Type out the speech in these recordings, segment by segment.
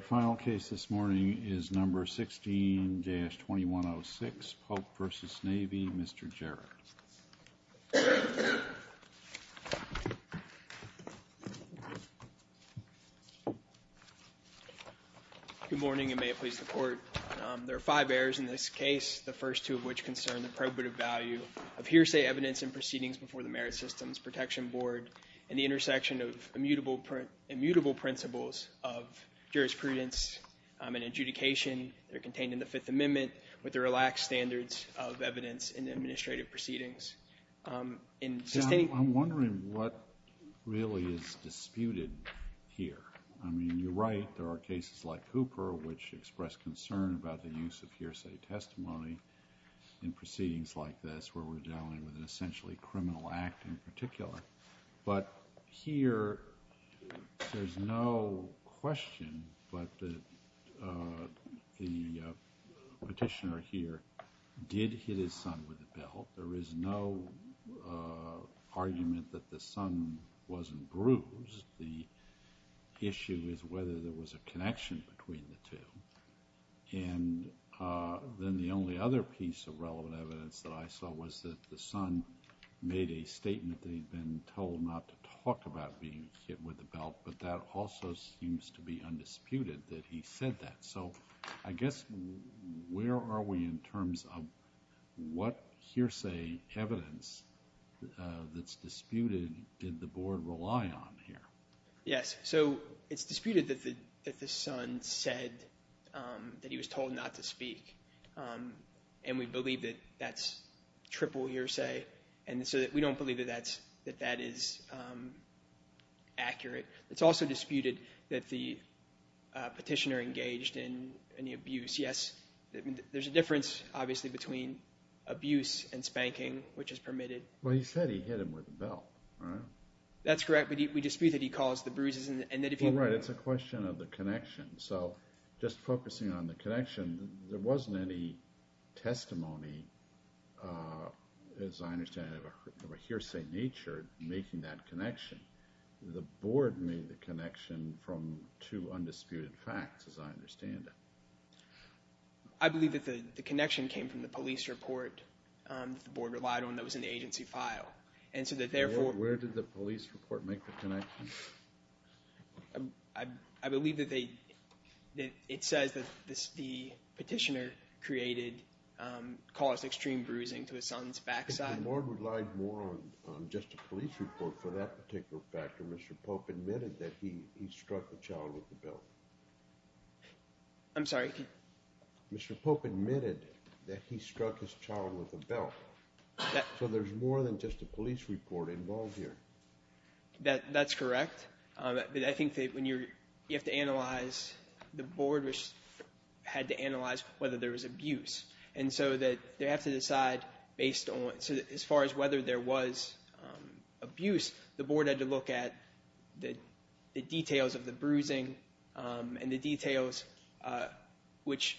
The final case this morning is No. 16-2106, Pope v. Navy. Mr. Jarrett. Good morning and may it please the Court. There are five errors in this case, the first two of which concern the probative value of hearsay evidence in proceedings before the Merit Systems Protection Board and the intersection of immutable principles of jurisprudence and adjudication that are contained in the Fifth Amendment with the relaxed standards of evidence in administrative proceedings. I'm wondering what really is disputed here. I mean, you're right, there are cases like Hooper which express concern about the use of hearsay testimony in proceedings like this where we're dealing with an essentially criminal act in particular. But here, there's no question but that the petitioner here did hit his son with a belt. There is no argument that the son wasn't bruised. The issue is whether there was a connection between the two. And then the only other piece of relevant evidence that I saw was that the son made a statement that he'd been told not to talk about being hit with a belt, but that also seems to be undisputed that he said that. So I guess where are we in terms of what hearsay evidence that's disputed did the Board rely on here? Yes. So it's disputed that the son said that he was told not to speak. And we believe that that's triple hearsay. And so we don't believe that that is accurate. It's also disputed that the petitioner engaged in any abuse. Yes, there's a difference obviously between abuse and spanking, which is permitted. Well, he said he hit him with a belt, right? That's correct. We dispute that he caused the bruises. Well, right. It's a question of the connection. So just focusing on the connection, there wasn't any testimony, as I understand it, of a hearsay nature making that connection. The Board made the connection from two undisputed facts, as I understand it. I believe that the connection came from the police report that the Board relied on that was in the agency file. And so that therefore where did the police report make the connection? I believe that it says that the petitioner caused extreme bruising to his son's backside. But the Board relied more on just a police report for that particular factor. Mr. Pope admitted that he struck the child with a belt. I'm sorry? Mr. Pope admitted that he struck his child with a belt. So there's more than just a police report involved here. That's correct. I think that when you have to analyze, the Board had to analyze whether there was abuse. And so that they have to decide based on, as far as whether there was abuse, the Board had to look at the details of the bruising and the details which,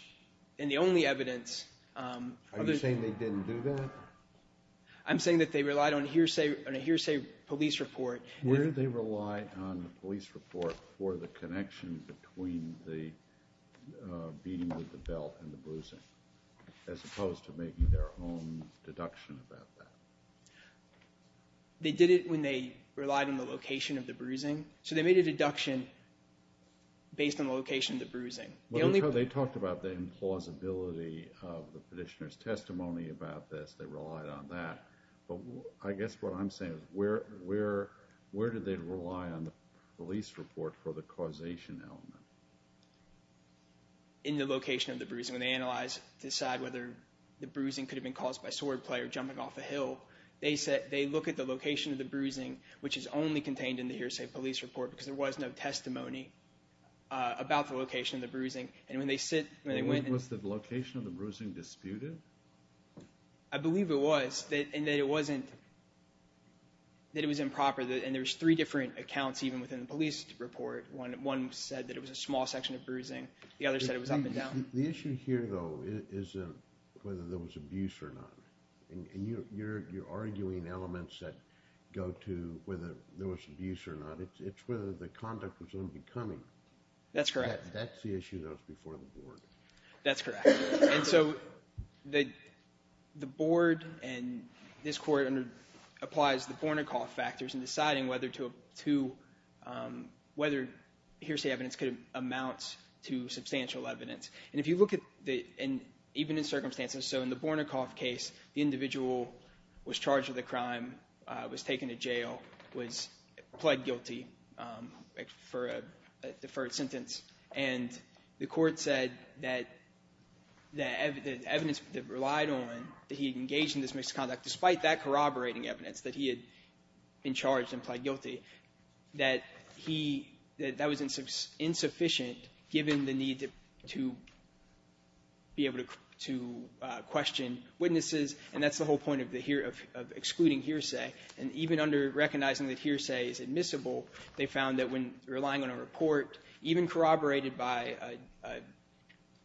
and the only evidence. Are you saying they didn't do that? I'm saying that they relied on a hearsay police report. Where did they rely on the police report for the connection between the beating with the belt and the bruising, as opposed to making their own deduction about that? They did it when they relied on the location of the bruising. So they made a deduction based on the location of the bruising. They talked about the implausibility of the petitioner's testimony about this. They relied on that. But I guess what I'm saying is where did they rely on the police report for the causation element? In the location of the bruising. When they analyze, decide whether the bruising could have been caused by swordplay or jumping off a hill, they look at the location of the bruising, which is only contained in the hearsay police report, because there was no testimony about the location of the bruising. Was the location of the bruising disputed? I believe it was. And that it wasn't, that it was improper. And there's three different accounts even within the police report. One said that it was a small section of bruising. The other said it was up and down. The issue here, though, is whether there was abuse or not. And you're arguing elements that go to whether there was abuse or not. It's whether the conduct was unbecoming. That's correct. That's the issue that was before the board. That's correct. And so the board and this court applies the Bornicoff factors in deciding whether hearsay evidence could amount to substantial evidence. And if you look at the – and even in circumstances, so in the Bornicoff case, the individual was charged with a crime, was taken to jail, was pled guilty for a deferred sentence. And the court said that the evidence that relied on that he engaged in this misconduct, despite that corroborating evidence that he had been charged and pled guilty, that he – that that was insufficient given the need to be able to question witnesses. And that's the whole point of the – of excluding hearsay. And even under recognizing that hearsay is admissible, they found that when relying on a report, even corroborated by a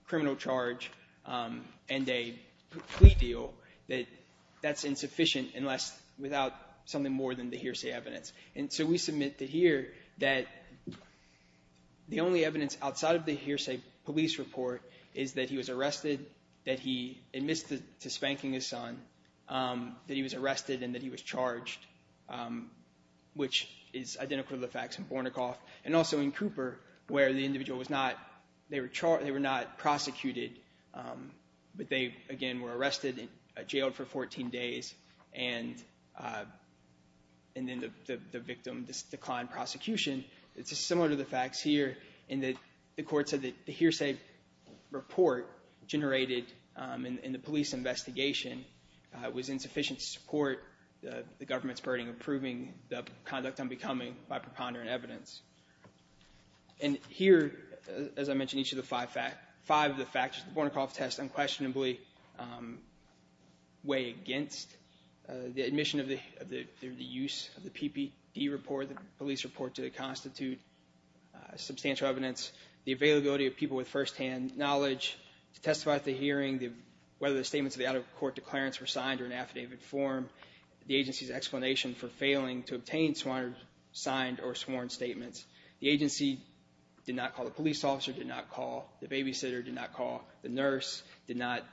criminal charge and a plea deal, that that's insufficient unless – without something more than the hearsay evidence. And so we submit to here that the only evidence outside of the hearsay police report is that he was arrested, that he admits to spanking his son, that he was arrested, and that he was charged, which is identical to the facts in Bornicoff and also in Cooper where the individual was not – they were not prosecuted, but they, again, were arrested and jailed for 14 days and then the victim declined prosecution. It's similar to the facts here in that the court said that the hearsay report generated in the police investigation was insufficient to support the government's burden of proving the conduct unbecoming by preponderant evidence. And here, as I mentioned, each of the five facts – five of the facts that the Bornicoff test unquestionably weigh against. The admission of the – the use of the PPD report, the police report to the constitute substantial evidence. The availability of people with firsthand knowledge to testify at the hearing. Whether the statements of the out-of-court declarants were signed or in affidavit form. The agency's explanation for failing to obtain signed or sworn statements. The agency did not call the police officer, did not call the babysitter, did not call the nurse, did not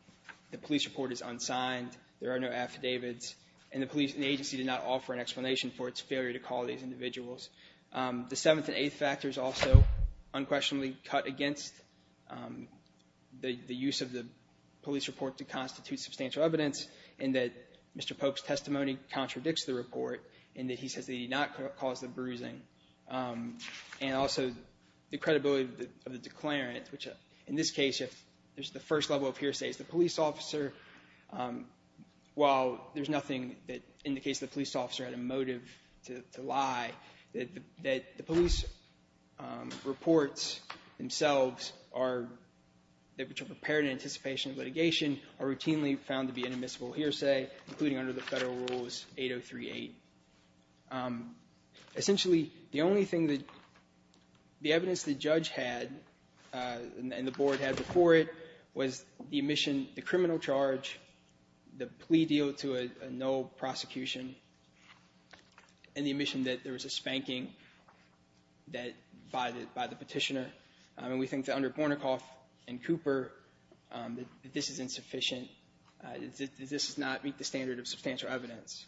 – the police report is unsigned. There are no affidavits. And the police – the agency did not offer an explanation for its failure to call these individuals. The seventh and eighth factors also unquestionably cut against the use of the police report to constitute substantial evidence in that Mr. Polk's testimony contradicts the report in that he says that he did not cause the bruising. And also, the credibility of the declarant, which in this case, if there's the first level of hearsay, is the police officer, while there's nothing that indicates the police officer had a motive to lie, that the police reports themselves are – which are prepared in anticipation of litigation are routinely found to be an admissible hearsay, including under the Federal Rules 8038. Essentially, the only thing that – the evidence the judge had and the board had before it was the omission, the criminal charge, the plea deal to a no prosecution, and the omission that there was a spanking that – by the petitioner. And we think that under Bornicoff and Cooper, that this is insufficient. This does not meet the standard of substantial evidence.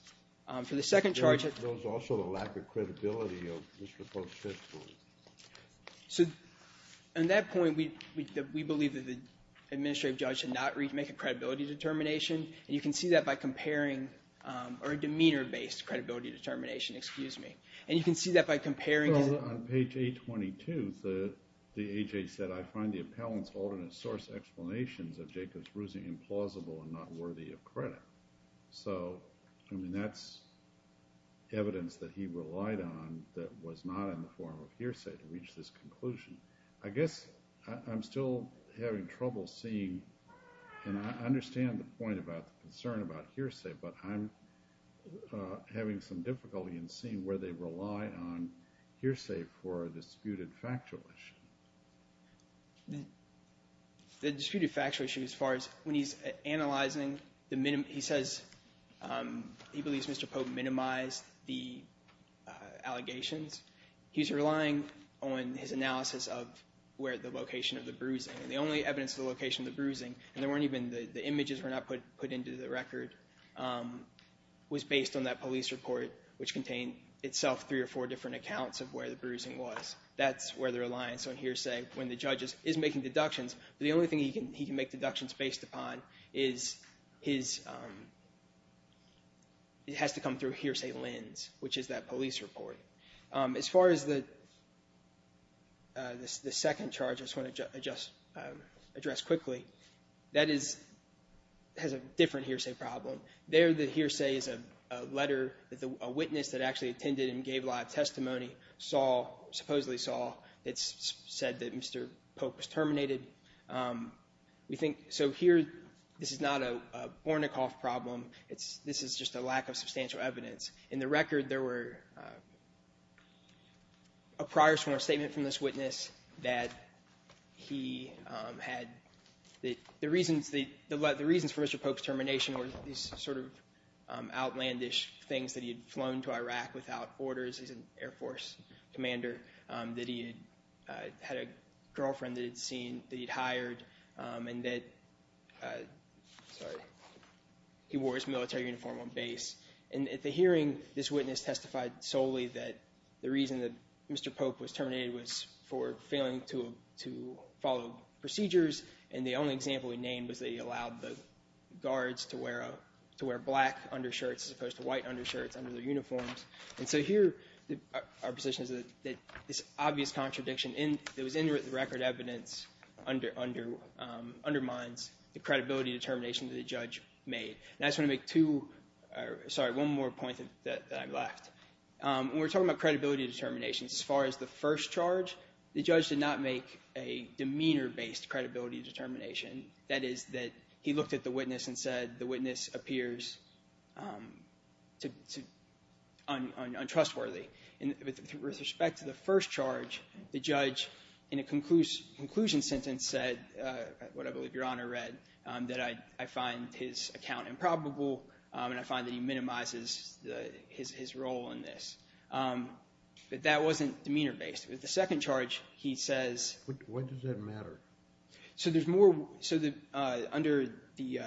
For the second charge – There was also a lack of credibility of Mr. Polk's testimony. So at that point, we believe that the administrative judge did not make a credibility determination. And you can see that by comparing – or a demeanor-based credibility determination, excuse me. And you can see that by comparing – On page 822, the A.J. said, I find the appellant's alternate source explanations of Jacob's bruising implausible and not worthy of credit. So, I mean, that's evidence that he relied on that was not in the form of hearsay to reach this conclusion. I guess I'm still having trouble seeing – and I understand the point about the concern about hearsay, but I'm having some difficulty in seeing where they rely on hearsay for a disputed factual issue. The disputed factual issue, as far as when he's analyzing – he says he believes Mr. Polk minimized the allegations. He's relying on his analysis of where the location of the bruising – the only evidence of the location of the bruising, and there weren't even – the images were not put into the record, was based on that police report, which contained itself three or four different accounts of where the bruising was. That's where their reliance on hearsay when the judge is making deductions. The only thing he can make deductions based upon is his – it has to come through hearsay lens, which is that police report. As far as the second charge I just want to address quickly, that is – has a different hearsay problem. There, the hearsay is a letter that a witness that actually attended and gave live testimony saw – supposedly saw – that said that Mr. Polk was terminated. We think – so here, this is not a Bornicoff problem. This is just a lack of substantial evidence. In the record, there were a prior sworn statement from this witness that he had – the reasons for Mr. Polk's termination were these sort of outlandish things, that he had flown to Iraq without orders as an Air Force commander, that he had had a girlfriend that he'd seen that he'd hired, and that – sorry – he wore his military uniform on base. And at the hearing, this witness testified solely that the reason that Mr. Polk was terminated was for failing to follow procedures, and the only example he named was that he allowed the guards to wear black undershirts as opposed to white undershirts under their uniforms. And so here, our position is that this obvious contradiction that was in the record evidence undermines the credibility determination that the judge made. And I just want to make two – sorry, one more point that I've left. When we're talking about credibility determinations, as far as the first charge, the judge did not make a demeanor-based credibility determination. That is that he looked at the witness and said the witness appears untrustworthy. With respect to the first charge, the judge, in a conclusion sentence, said – that I find his account improbable, and I find that he minimizes his role in this. But that wasn't demeanor-based. With the second charge, he says – What does that matter? So there's more – so under the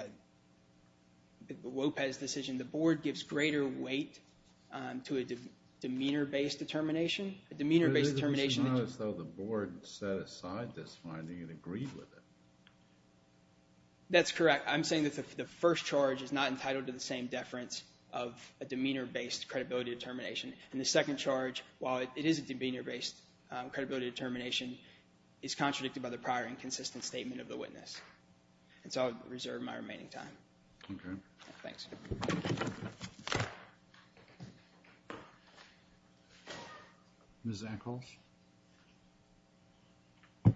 Lopez decision, the board gives greater weight to a demeanor-based determination. It's not as though the board set aside this finding and agreed with it. That's correct. I'm saying that the first charge is not entitled to the same deference of a demeanor-based credibility determination. And the second charge, while it is a demeanor-based credibility determination, is contradicted by the prior inconsistent statement of the witness. And so I'll reserve my remaining time. Okay. Thanks. Ms. Echols? Good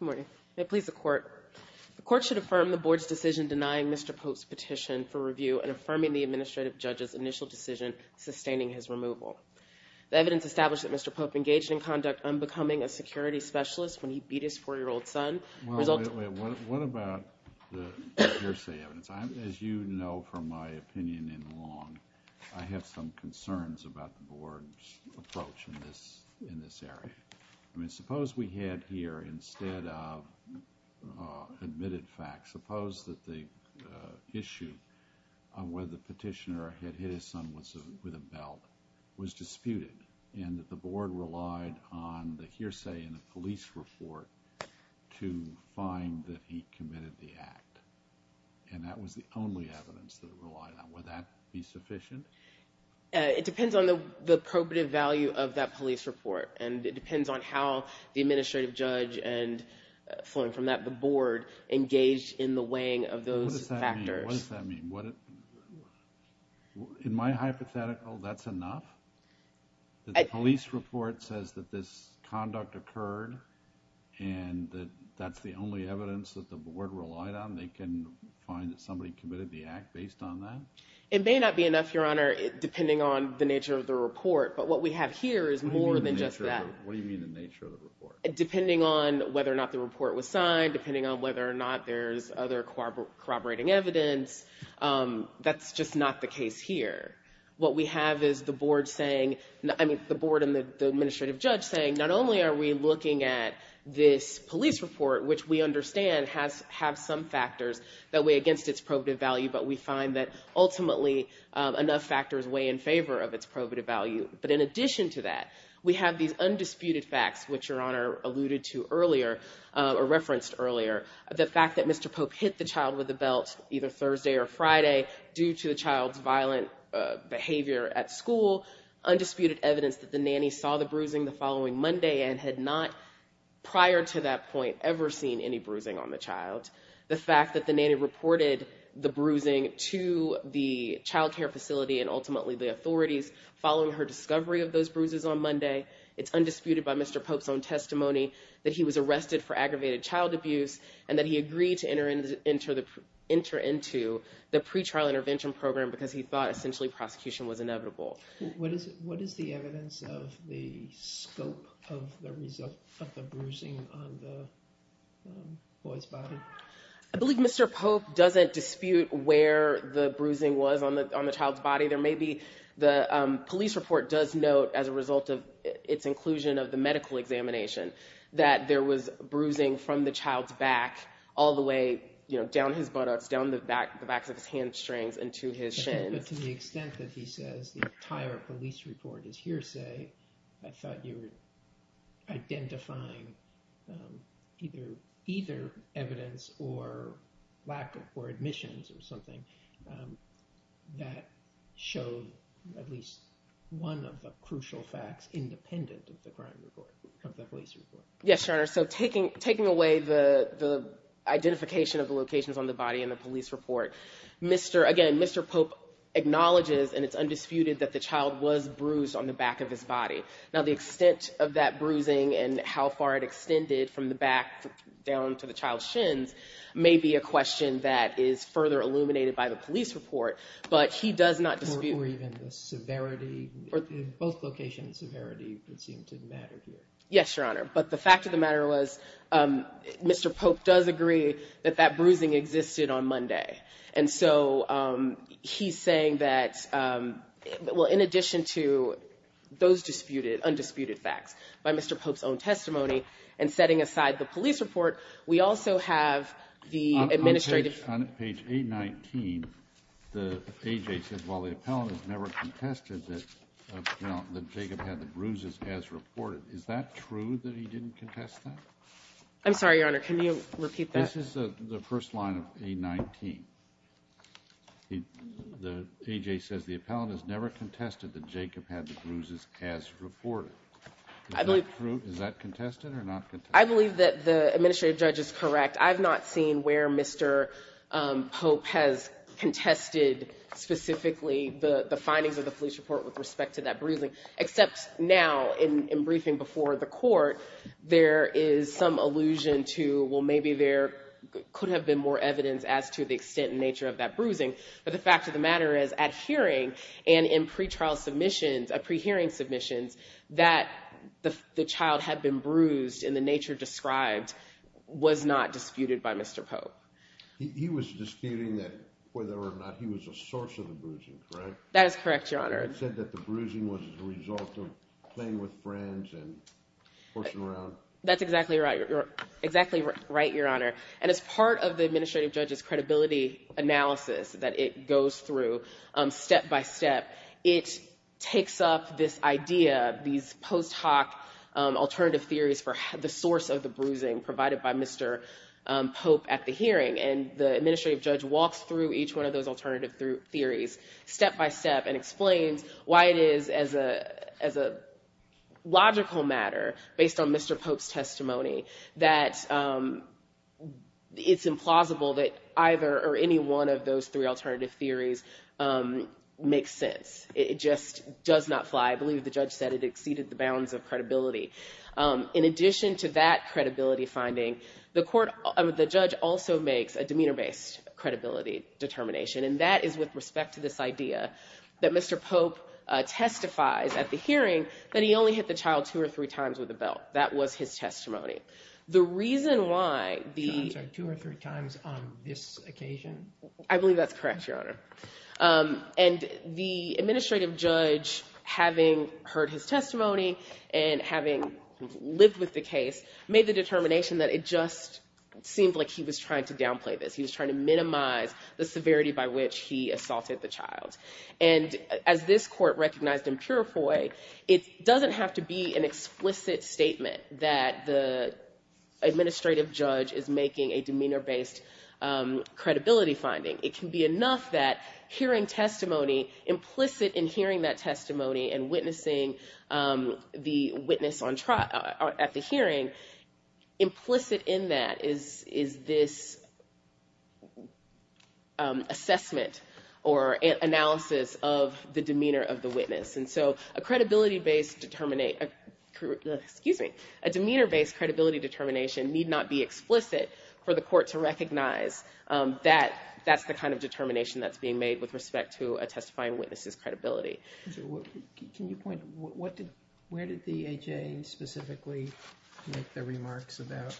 morning. May it please the Court. The Court should affirm the board's decision denying Mr. Pope's petition for review and affirming the administrative judge's initial decision sustaining his removal. The evidence established that Mr. Pope engaged in conduct unbecoming a security specialist when he beat his 4-year-old son – What about the hearsay evidence? As you know from my opinion in Long, I have some concerns about the board's approach in this area. I mean, suppose we had here, instead of admitted facts, suppose that the issue on whether the petitioner had hit his son with a belt was disputed and that the board relied on the hearsay in the police report to find that he committed the act. And that was the only evidence that it relied on. Would that be sufficient? It depends on the probative value of that police report. And it depends on how the administrative judge and, flowing from that, the board, engaged in the weighing of those factors. What does that mean? In my hypothetical, that's enough? The police report says that this conduct occurred and that's the only evidence that the board relied on? They can find that somebody committed the act based on that? It may not be enough, Your Honor, depending on the nature of the report. But what we have here is more than just that. What do you mean the nature of the report? Depending on whether or not the report was signed, depending on whether or not there's other corroborating evidence. That's just not the case here. What we have is the board and the administrative judge saying, not only are we looking at this police report, which we understand has some factors that weigh against its probative value, but we find that ultimately enough factors weigh in favor of its probative value. But in addition to that, we have these undisputed facts, which Your Honor alluded to earlier, or referenced earlier. The fact that Mr. Pope hit the child with a belt either Thursday or Friday due to the child's violent behavior at school. Undisputed evidence that the nanny saw the bruising the following Monday and had not prior to that point ever seen any bruising on the child. The fact that the nanny reported the bruising to the child care facility and ultimately the authorities following her discovery of those bruises on Monday. It's undisputed by Mr. Pope's own testimony that he was arrested for aggravated child abuse and that he agreed to enter into the pre-trial intervention program because he thought essentially prosecution was inevitable. What is the evidence of the scope of the bruising on the boy's body? I believe Mr. Pope doesn't dispute where the bruising was on the child's body. The police report does note as a result of its inclusion of the medical examination that there was bruising from the child's back all the way down his buttocks, down the backs of his hamstrings and to his shins. But to the extent that he says the entire police report is hearsay, I thought you were identifying either evidence or admissions or something that showed at least one of the crucial facts independent of the crime report, of the police report. Yes, Your Honor. So taking away the identification of the locations on the body in the police report, again, Mr. Pope acknowledges and it's undisputed that the child was bruised on the back of his body. Now the extent of that bruising and how far it extended from the back down to the child's shins may be a question that is further illuminated by the police report, but he does not dispute. Or even the severity, both locations' severity would seem to matter here. Yes, Your Honor. But the fact of the matter was Mr. Pope does agree that that bruising existed on Monday. And so he's saying that in addition to those undisputed facts by Mr. Pope's own testimony and setting aside the police report, we also have the administrative. On page 819, the A.J. says while the appellant has never contested that Jacob had the bruises as reported. Is that true that he didn't contest that? I'm sorry, Your Honor. Can you repeat that? This is the first line of 819. The A.J. says the appellant has never contested that Jacob had the bruises as reported. Is that true? I believe that the administrative judge is correct. I've not seen where Mr. Pope has contested specifically the findings of the police report with respect to that bruising, except now in briefing before the court, there is some allusion to, well, maybe there could have been more evidence as to the extent and nature of that bruising. But the fact of the matter is at hearing and in pre-trial submissions, at pre-hearing submissions, that the child had been bruised in the nature described was not disputed by Mr. Pope. He was disputing that whether or not he was a source of the bruising, correct? That is correct, Your Honor. He said that the bruising was the result of playing with friends and horsing around. That's exactly right, Your Honor. And as part of the administrative judge's credibility analysis that it goes through step by step, it takes up this idea, these post hoc alternative theories for the source of the bruising provided by Mr. Pope at the hearing, and the administrative judge walks through each one of those alternative theories step by step and explains why it is as a logical matter, based on Mr. Pope's testimony, that it's implausible that either or any one of those three alternative theories makes sense. It just does not fly. I believe the judge said it exceeded the bounds of credibility. In addition to that credibility finding, the judge also makes a demeanor-based credibility determination, and that is with respect to this idea that Mr. Pope testifies at the hearing that he only hit the child two or three times with a belt. That was his testimony. The reason why the... Two or three times on this occasion? I believe that's correct, Your Honor. And the administrative judge, having heard his testimony and having lived with the case, made the determination that it just seemed like he was trying to downplay this. He was trying to minimize the severity by which he assaulted the child. And as this court recognized in pure FOIA, it doesn't have to be an explicit statement that the administrative judge is making a demeanor-based credibility finding. It can be enough that hearing testimony, implicit in hearing that testimony and witnessing the witness at the hearing, implicit in that is this assessment or analysis of the demeanor of the witness. And so a credibility-based determination... Excuse me. A demeanor-based credibility determination need not be explicit for the court to recognize that that's the kind of determination that's being made with respect to a testifying witness' credibility. Can you point... Where did the A.J. specifically make the remarks about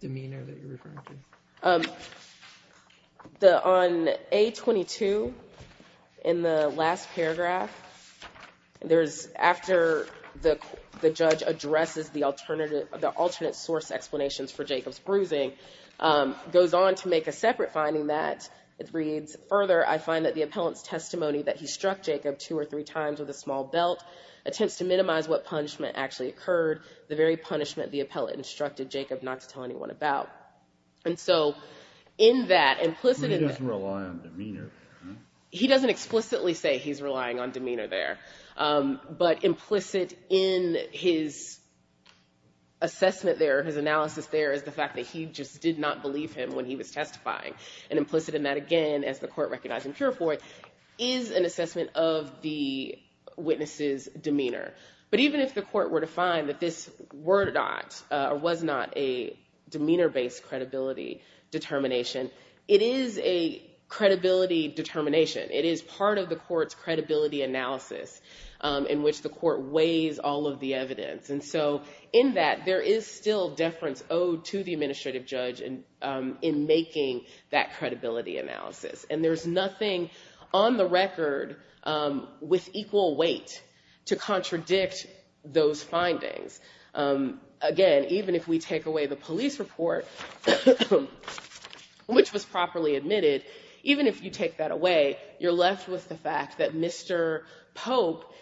demeanor that you're referring to? On A22, in the last paragraph, there's after the judge addresses the alternate source explanations for Jacob's bruising, goes on to make a separate finding that reads, Further, I find that the appellant's testimony that he struck Jacob two or three times with a small belt attempts to minimize what punishment actually occurred, the very punishment the appellant instructed Jacob not to tell anyone about. And so in that, implicit in that... He doesn't rely on demeanor. He doesn't explicitly say he's relying on demeanor there. But implicit in his assessment there, his analysis there, is the fact that he just did not believe him when he was testifying. And implicit in that again, as the court recognized in Pure Fourth, is an assessment of the witness' demeanor. But even if the court were to find that this were not, or was not a demeanor-based credibility determination, it is a credibility determination. It is part of the court's credibility analysis in which the court weighs all of the evidence. And so in that, there is still deference owed to the administrative judge in making that credibility analysis. And there's nothing on the record with equal weight to contradict those findings. Again, even if we take away the police report, which was properly admitted, even if you take that away, you're left with the fact that Mr. Pope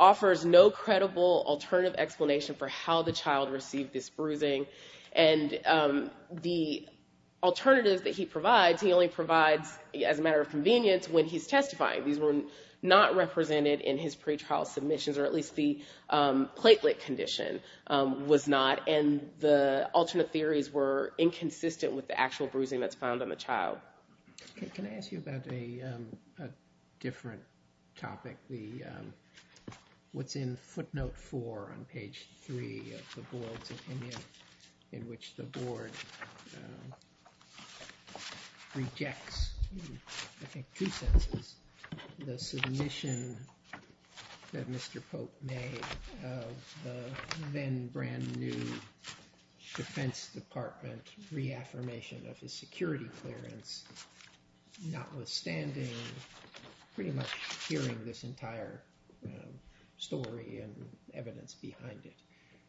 offers no credible alternative explanation for how the child received this bruising. And the alternatives that he provides, he only provides as a matter of convenience when he's testifying. These were not represented in his pretrial submissions, or at least the platelet condition was not. And the alternate theories were inconsistent with the actual bruising that's found on the child. Can I ask you about a different topic? What's in footnote four on page three of the board's opinion in which the board rejects, I think two sentences, the submission that Mr. Pope made of the then brand new defense department reaffirmation of his security clearance, notwithstanding pretty much hearing this entire story and evidence behind it.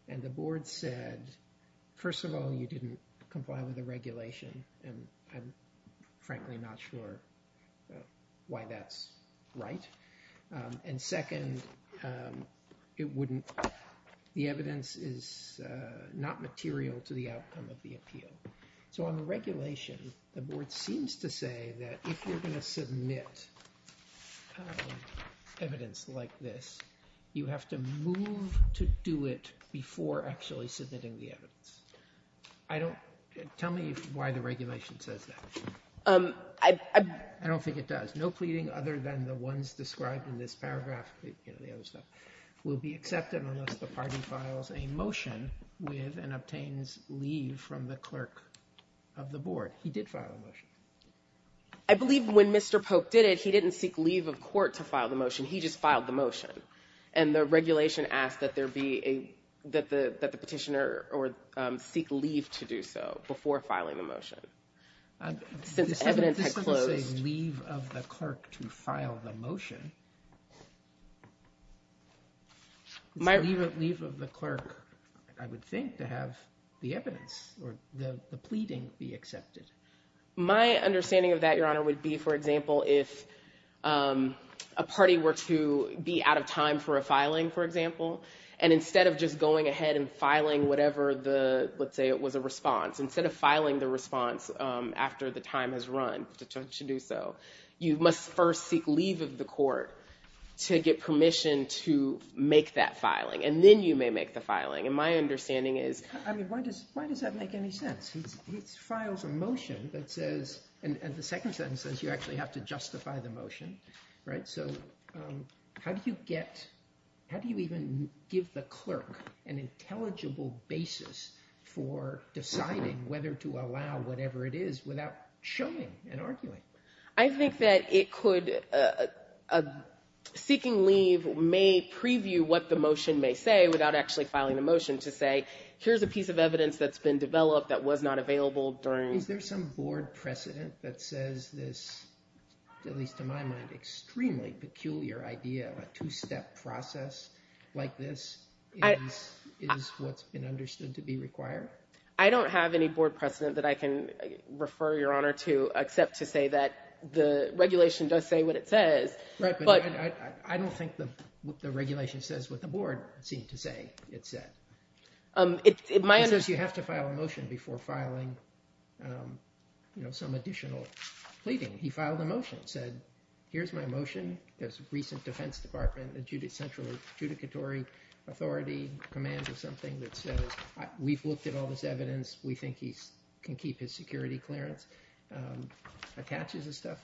And the board said, first of all, you didn't comply with the regulation. And I'm frankly not sure why that's right. And second, the evidence is not material to the outcome of the appeal. So on the regulation, the board seems to say that if you're going to submit evidence like this, you have to move to do it before actually submitting the evidence. Tell me why the regulation says that. I don't think it does. No pleading other than the ones described in this paragraph will be accepted unless the party files a motion with and obtains leave from the clerk of the board. He did file a motion. I believe when Mr. Pope did it, he didn't seek leave of court to file the motion. He just filed the motion. And the regulation asked that the petitioner seek leave to do so before filing the motion. This doesn't say leave of the clerk to file the motion. It's leave of the clerk, I would think, to have the evidence or the pleading be accepted. My understanding of that, Your Honor, would be, for example, if a party were to be out of time for a filing, for example, and instead of just going ahead and filing whatever the, let's say it was a response, instead of filing the response after the time has run to do so, you must first seek leave of the court to get permission to make that filing. And then you may make the filing. And my understanding is— I mean, why does that make any sense? He files a motion that says—and the second sentence says you actually have to justify the motion, right? So how do you get—how do you even give the clerk an intelligible basis for deciding whether to allow whatever it is without showing and arguing? I think that it could—seeking leave may preview what the motion may say without actually filing the motion to say here's a piece of evidence that's been developed that was not available during— Is there some board precedent that says this, at least to my mind, extremely peculiar idea of a two-step process like this is what's been understood to be required? I don't have any board precedent that I can refer Your Honor to except to say that the regulation does say what it says. Right, but I don't think the regulation says what the board seemed to say it said. It might— It says you have to file a motion before filing some additional pleading. He filed a motion, said here's my motion. There's a recent defense department, central adjudicatory authority, command of something that says we've looked at all this evidence. We think he can keep his security clearance. Attaches his stuff.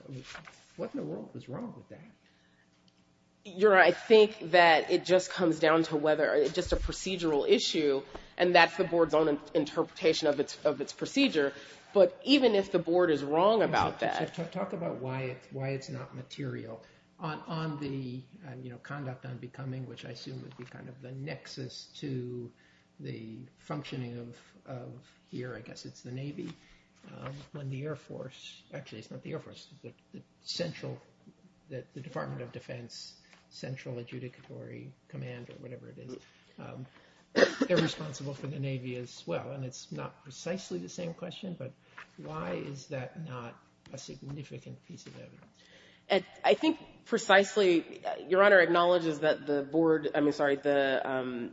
What in the world is wrong with that? Your Honor, I think that it just comes down to whether it's just a procedural issue and that's the board's own interpretation of its procedure. But even if the board is wrong about that— Talk about why it's not material. On the conduct unbecoming, which I assume would be kind of the nexus to the functioning of here, I guess it's the Navy, when the Air Force—actually, it's not the Air Force. The central—the Department of Defense central adjudicatory command or whatever it is. They're responsible for the Navy as well, and it's not precisely the same question, but why is that not a significant piece of evidence? I think precisely—Your Honor acknowledges that the board—I mean, sorry, the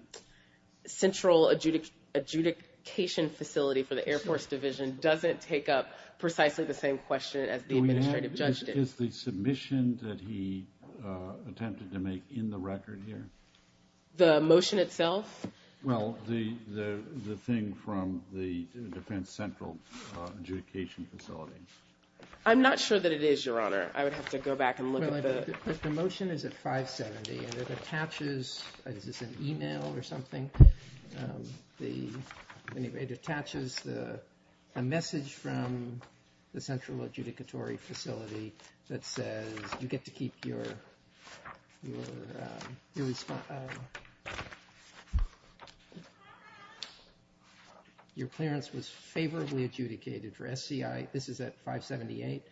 central adjudication facility for the Air Force division doesn't take up precisely the same question as the administrative judge did. Is the submission that he attempted to make in the record here? The motion itself? Well, the thing from the defense central adjudication facility. I'm not sure that it is, Your Honor. I would have to go back and look at the— But the motion is at 570, and it attaches—is this an email or something? Anyway, it attaches a message from the central adjudicatory facility that says, you get to keep your—your clearance was favorably adjudicated for SCI. This is at 578,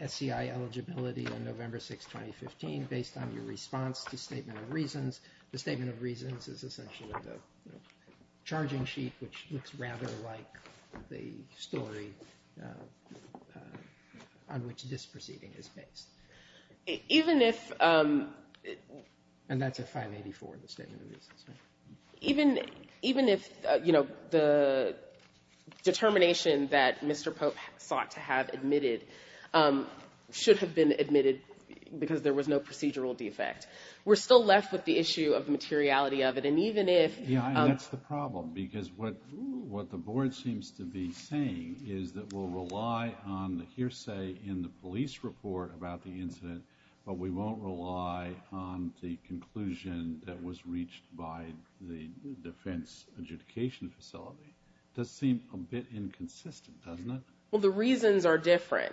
SCI eligibility on November 6th, 2015, based on your response to statement of reasons. The statement of reasons is essentially the charging sheet, which looks rather like the story on which this proceeding is based. Even if— And that's at 584, the statement of reasons. Even if, you know, the determination that Mr. Pope sought to have admitted should have been admitted because there was no procedural defect. We're still left with the issue of the materiality of it, and even if— Yeah, and that's the problem because what the board seems to be saying is that we'll rely on the hearsay in the police report about the incident, but we won't rely on the conclusion that was reached by the defense adjudication facility. It does seem a bit inconsistent, doesn't it? Well, the reasons are different.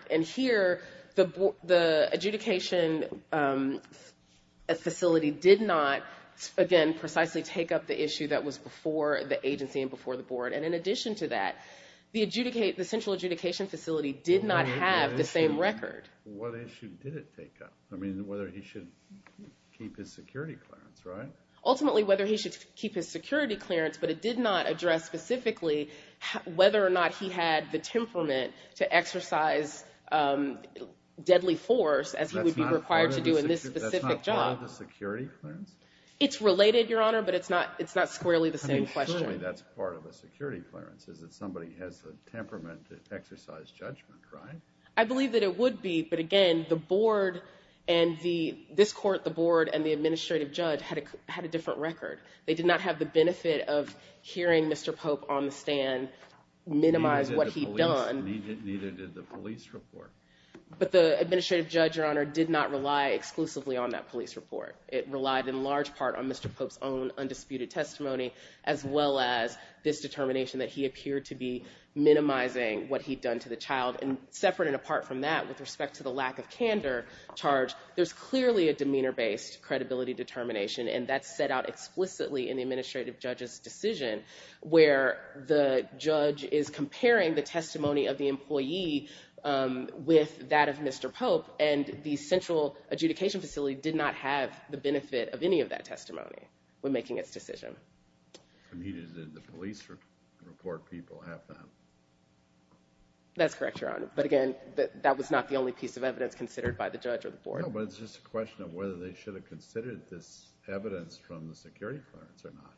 that was before the agency and before the board, and in addition to that, the central adjudication facility did not have the same record. What issue did it take up? I mean, whether he should keep his security clearance, right? Ultimately, whether he should keep his security clearance, but it did not address specifically whether or not he had the temperament to exercise deadly force as he would be required to do in this specific job. That's not part of the security clearance? It's related, Your Honor, but it's not squarely the same question. I mean, certainly that's part of the security clearance, is that somebody has the temperament to exercise judgment, right? I believe that it would be, but again, the board and the—this court, the board and the administrative judge had a different record. They did not have the benefit of hearing Mr. Pope on the stand, minimize what he'd done. Neither did the police report. But the administrative judge, Your Honor, did not rely exclusively on that police report. It relied in large part on Mr. Pope's own undisputed testimony, as well as this determination that he appeared to be minimizing what he'd done to the child. And separate and apart from that, with respect to the lack of candor charge, there's clearly a demeanor-based credibility determination, and that's set out explicitly in the administrative judge's decision, where the judge is comparing the testimony of the employee with that of Mr. Pope, and the central adjudication facility did not have the benefit of any of that testimony when making its decision. I mean, did the police report people have them? That's correct, Your Honor. But again, that was not the only piece of evidence considered by the judge or the board. No, but it's just a question of whether they should have considered this evidence from the security clearance or not.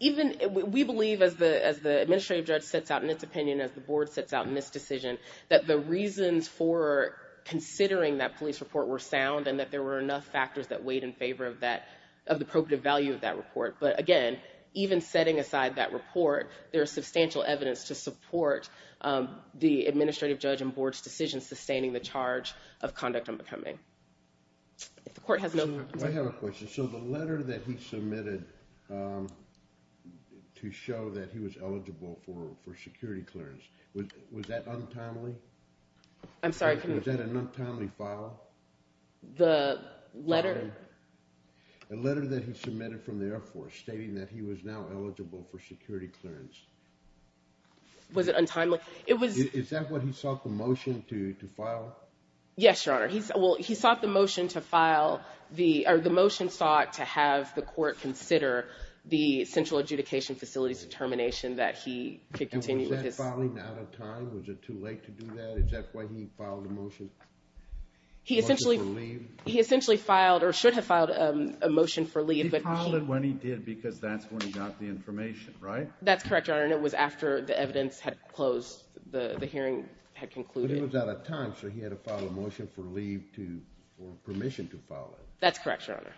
Even—we believe, as the administrative judge sets out in its opinion, as the board sets out in this decision, that the reasons for considering that police report were sound and that there were enough factors that weighed in favor of the appropriate value of that report. But again, even setting aside that report, there is substantial evidence to support the administrative judge and board's decision sustaining the charge of conduct unbecoming. If the court has no— I have a question. So the letter that he submitted to show that he was eligible for security clearance, was that untimely? I'm sorry. Was that an untimely file? The letter? The letter that he submitted from the Air Force stating that he was now eligible for security clearance. Was it untimely? Is that what he sought the motion to file? Yes, Your Honor. Well, he sought the motion to file the— or the motion sought to have the court consider the central adjudication facility's determination that he could continue with his— And was that filing out of time? Was it too late to do that? Is that why he filed a motion for leave? He essentially filed—or should have filed a motion for leave, but he— He filed it when he did because that's when he got the information, right? That's correct, Your Honor, and it was after the evidence had closed, the hearing had concluded. But it was out of time, so he had to file a motion for leave to— or permission to file it. That's correct, Your Honor.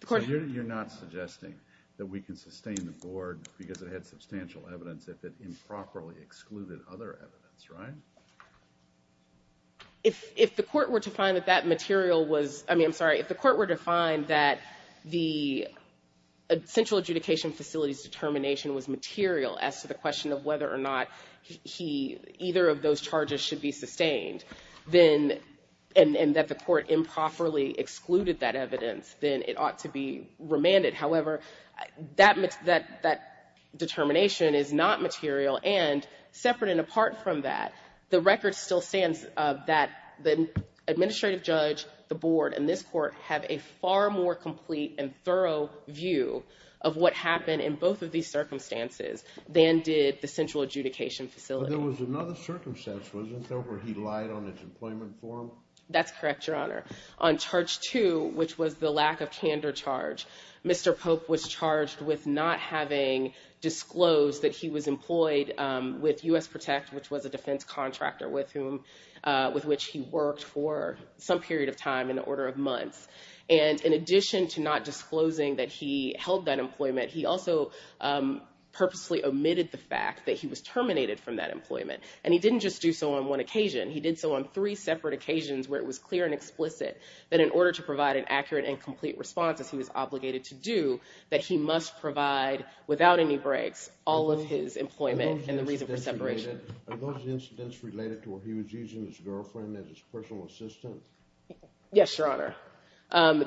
The court— So you're not suggesting that we can sustain the board because it had substantial evidence if it improperly excluded other evidence, right? If the court were to find that that material was— I mean, I'm sorry. If the court were to find that the central adjudication facility's determination was material as to the question of whether or not he— either of those charges should be sustained, then—and that the court improperly excluded that evidence, then it ought to be remanded. However, that determination is not material, and separate and apart from that, the record still stands that the administrative judge, the board, and this court have a far more complete and thorough view of what happened in both of these circumstances than did the central adjudication facility. But there was another circumstance, wasn't there, where he lied on his employment form? That's correct, Your Honor. On charge two, which was the lack of candor charge, Mr. Pope was charged with not having disclosed that he was employed with U.S. Protect, which was a defense contractor with whom— And in addition to not disclosing that he held that employment, he also purposely omitted the fact that he was terminated from that employment. And he didn't just do so on one occasion. He did so on three separate occasions where it was clear and explicit that in order to provide an accurate and complete response, as he was obligated to do, that he must provide, without any breaks, all of his employment and the reason for separation. Are those incidents related to what he was using his girlfriend as his personal assistant? Yes, Your Honor.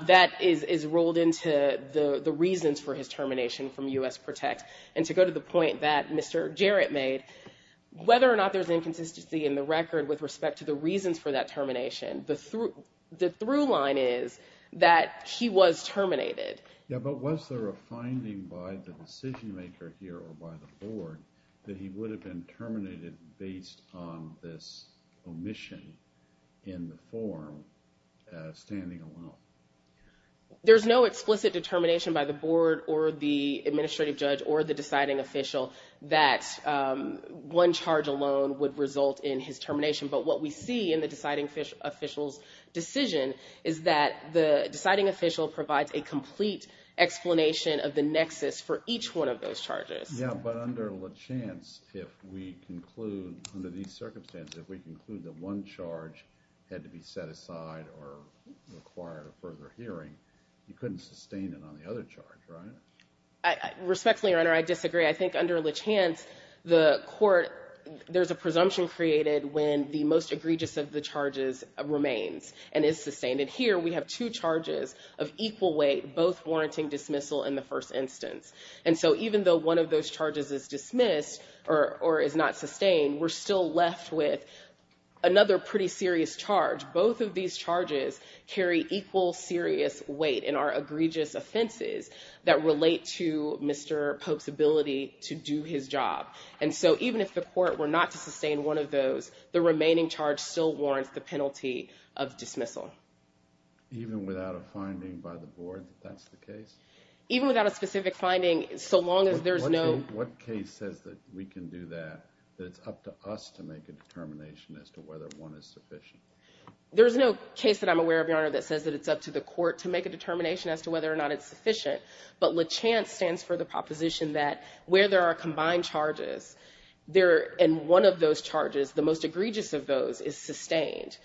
That is rolled into the reasons for his termination from U.S. Protect. And to go to the point that Mr. Jarrett made, whether or not there's inconsistency in the record with respect to the reasons for that termination, the through line is that he was terminated. Yeah, but was there a finding by the decision-maker here or by the board that he would have been terminated based on this omission in the form, standing alone? There's no explicit determination by the board or the administrative judge or the deciding official that one charge alone would result in his termination. But what we see in the deciding official's decision is that the deciding official provides a complete explanation of the nexus for each one of those charges. Yeah, but under LeChance, if we conclude under these circumstances, if we conclude that one charge had to be set aside or required a further hearing, you couldn't sustain it on the other charge, right? Respectfully, Your Honor, I disagree. I think under LeChance, the court, there's a presumption created when the most egregious of the charges remains and is sustained. And here, we have two charges of equal weight, both warranting dismissal in the first instance. And so even though one of those charges is dismissed or is not sustained, we're still left with another pretty serious charge. Both of these charges carry equal serious weight in our egregious offenses that relate to Mr. Pope's ability to do his job. And so even if the court were not to sustain one of those, the remaining charge still warrants the penalty of dismissal. Even without a finding by the board that that's the case? Even without a specific finding, so long as there's no... What case says that we can do that, that it's up to us to make a determination as to whether one is sufficient? There's no case that I'm aware of, Your Honor, that says that it's up to the court to make a determination as to whether or not it's sufficient. But LeChance stands for the proposition that where there are combined charges, and one of those charges, the most egregious of those, is sustained,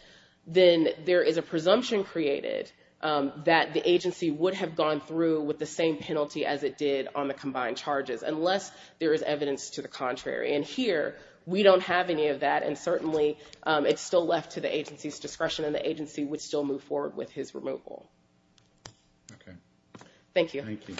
then there is a presumption created that the agency would have gone through with the same penalty as it did on the combined charges, unless there is evidence to the contrary. And here, we don't have any of that, and certainly it's still left to the agency's discretion, and the agency would still move forward with his removal. Okay. Thank you. Thank you. Thank you.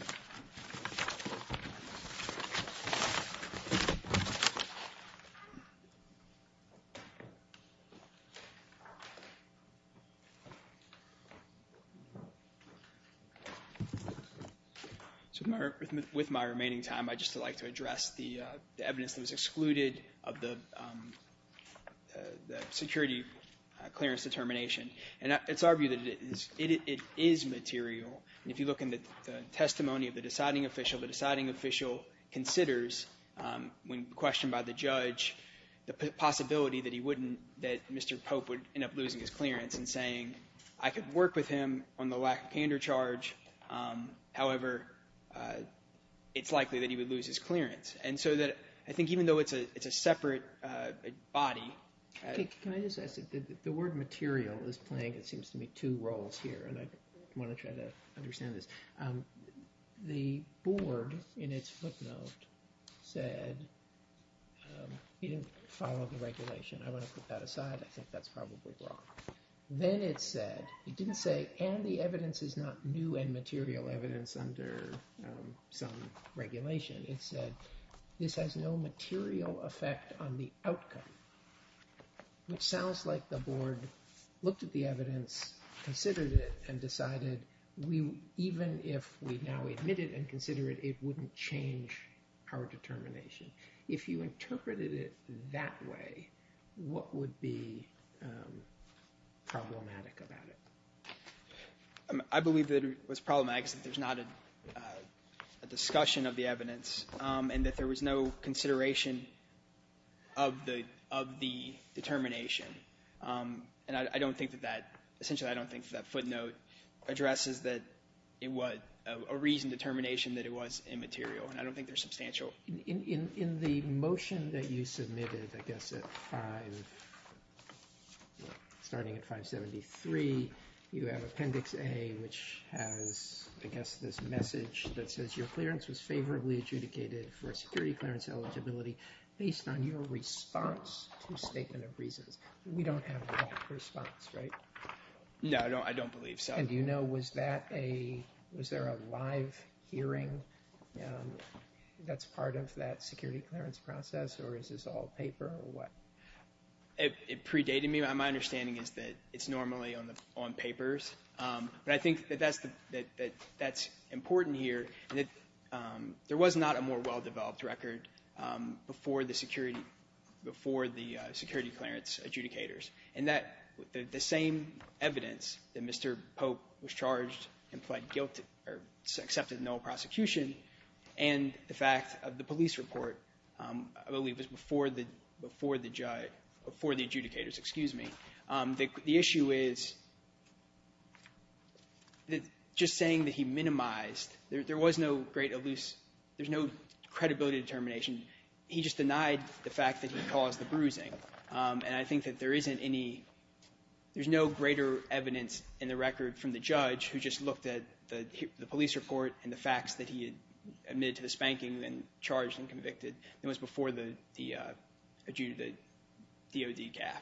With my remaining time, I'd just like to address the evidence that was excluded of the security clearance determination. And it's argued that it is material. And if you look in the testimony of the deciding official, the deciding official considers, when questioned by the judge, the possibility that he wouldn't, that Mr. Pope would end up losing his clearance and saying, I could work with him on the lack of candor charge. However, it's likely that he would lose his clearance. And so that I think even though it's a separate body. Can I just ask? The word material is playing, it seems to me, two roles here, and I want to try to understand this. The board, in its footnote, said, it didn't follow the regulation. I want to put that aside. I think that's probably wrong. Then it said, it didn't say, and the evidence is not new and material evidence under some regulation. It said, this has no material effect on the outcome, which sounds like the board looked at the evidence, considered it, and decided even if we now admit it and consider it, it wouldn't change our determination. If you interpreted it that way, what would be problematic about it? I believe that what's problematic is that there's not a discussion of the evidence and that there was no consideration of the determination. And I don't think that that, essentially, I don't think that footnote addresses that it was a reasoned determination that it was immaterial, and I don't think they're substantial. In the motion that you submitted, I guess, starting at 573, you have Appendix A, which has, I guess, this message that says, your clearance was favorably adjudicated for a security clearance eligibility based on your response to a statement of reasons. We don't have a response, right? No, I don't believe so. And do you know, was there a live hearing that's part of that security clearance process, or is this all paper, or what? It predated me. My understanding is that it's normally on papers. But I think that that's important here. There was not a more well-developed record before the security clearance adjudicators. And the same evidence that Mr. Pope was charged and pled guilty or accepted no prosecution and the fact of the police report, I believe, was before the adjudicators. The issue is just saying that he minimized, there was no great elusive, there's no credibility determination. He just denied the fact that he caused the bruising. And I think that there isn't any, there's no greater evidence in the record from the judge who just looked at the police report and the facts that he admitted to the spanking and charged and convicted than was before the DOD GAF.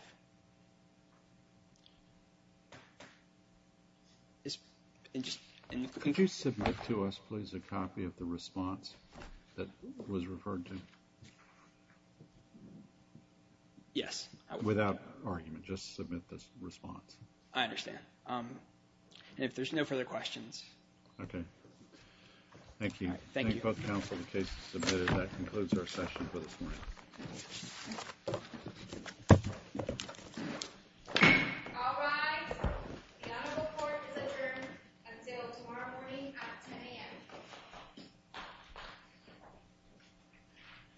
Could you submit to us, please, a copy of the response that was referred to? Yes. Without argument, just submit this response. I understand. And if there's no further questions. Okay. Thank you. Thank you both counsel. The case is submitted. That concludes our session for this morning. All rise. The Honorable Court is adjourned until tomorrow morning at 10 a.m.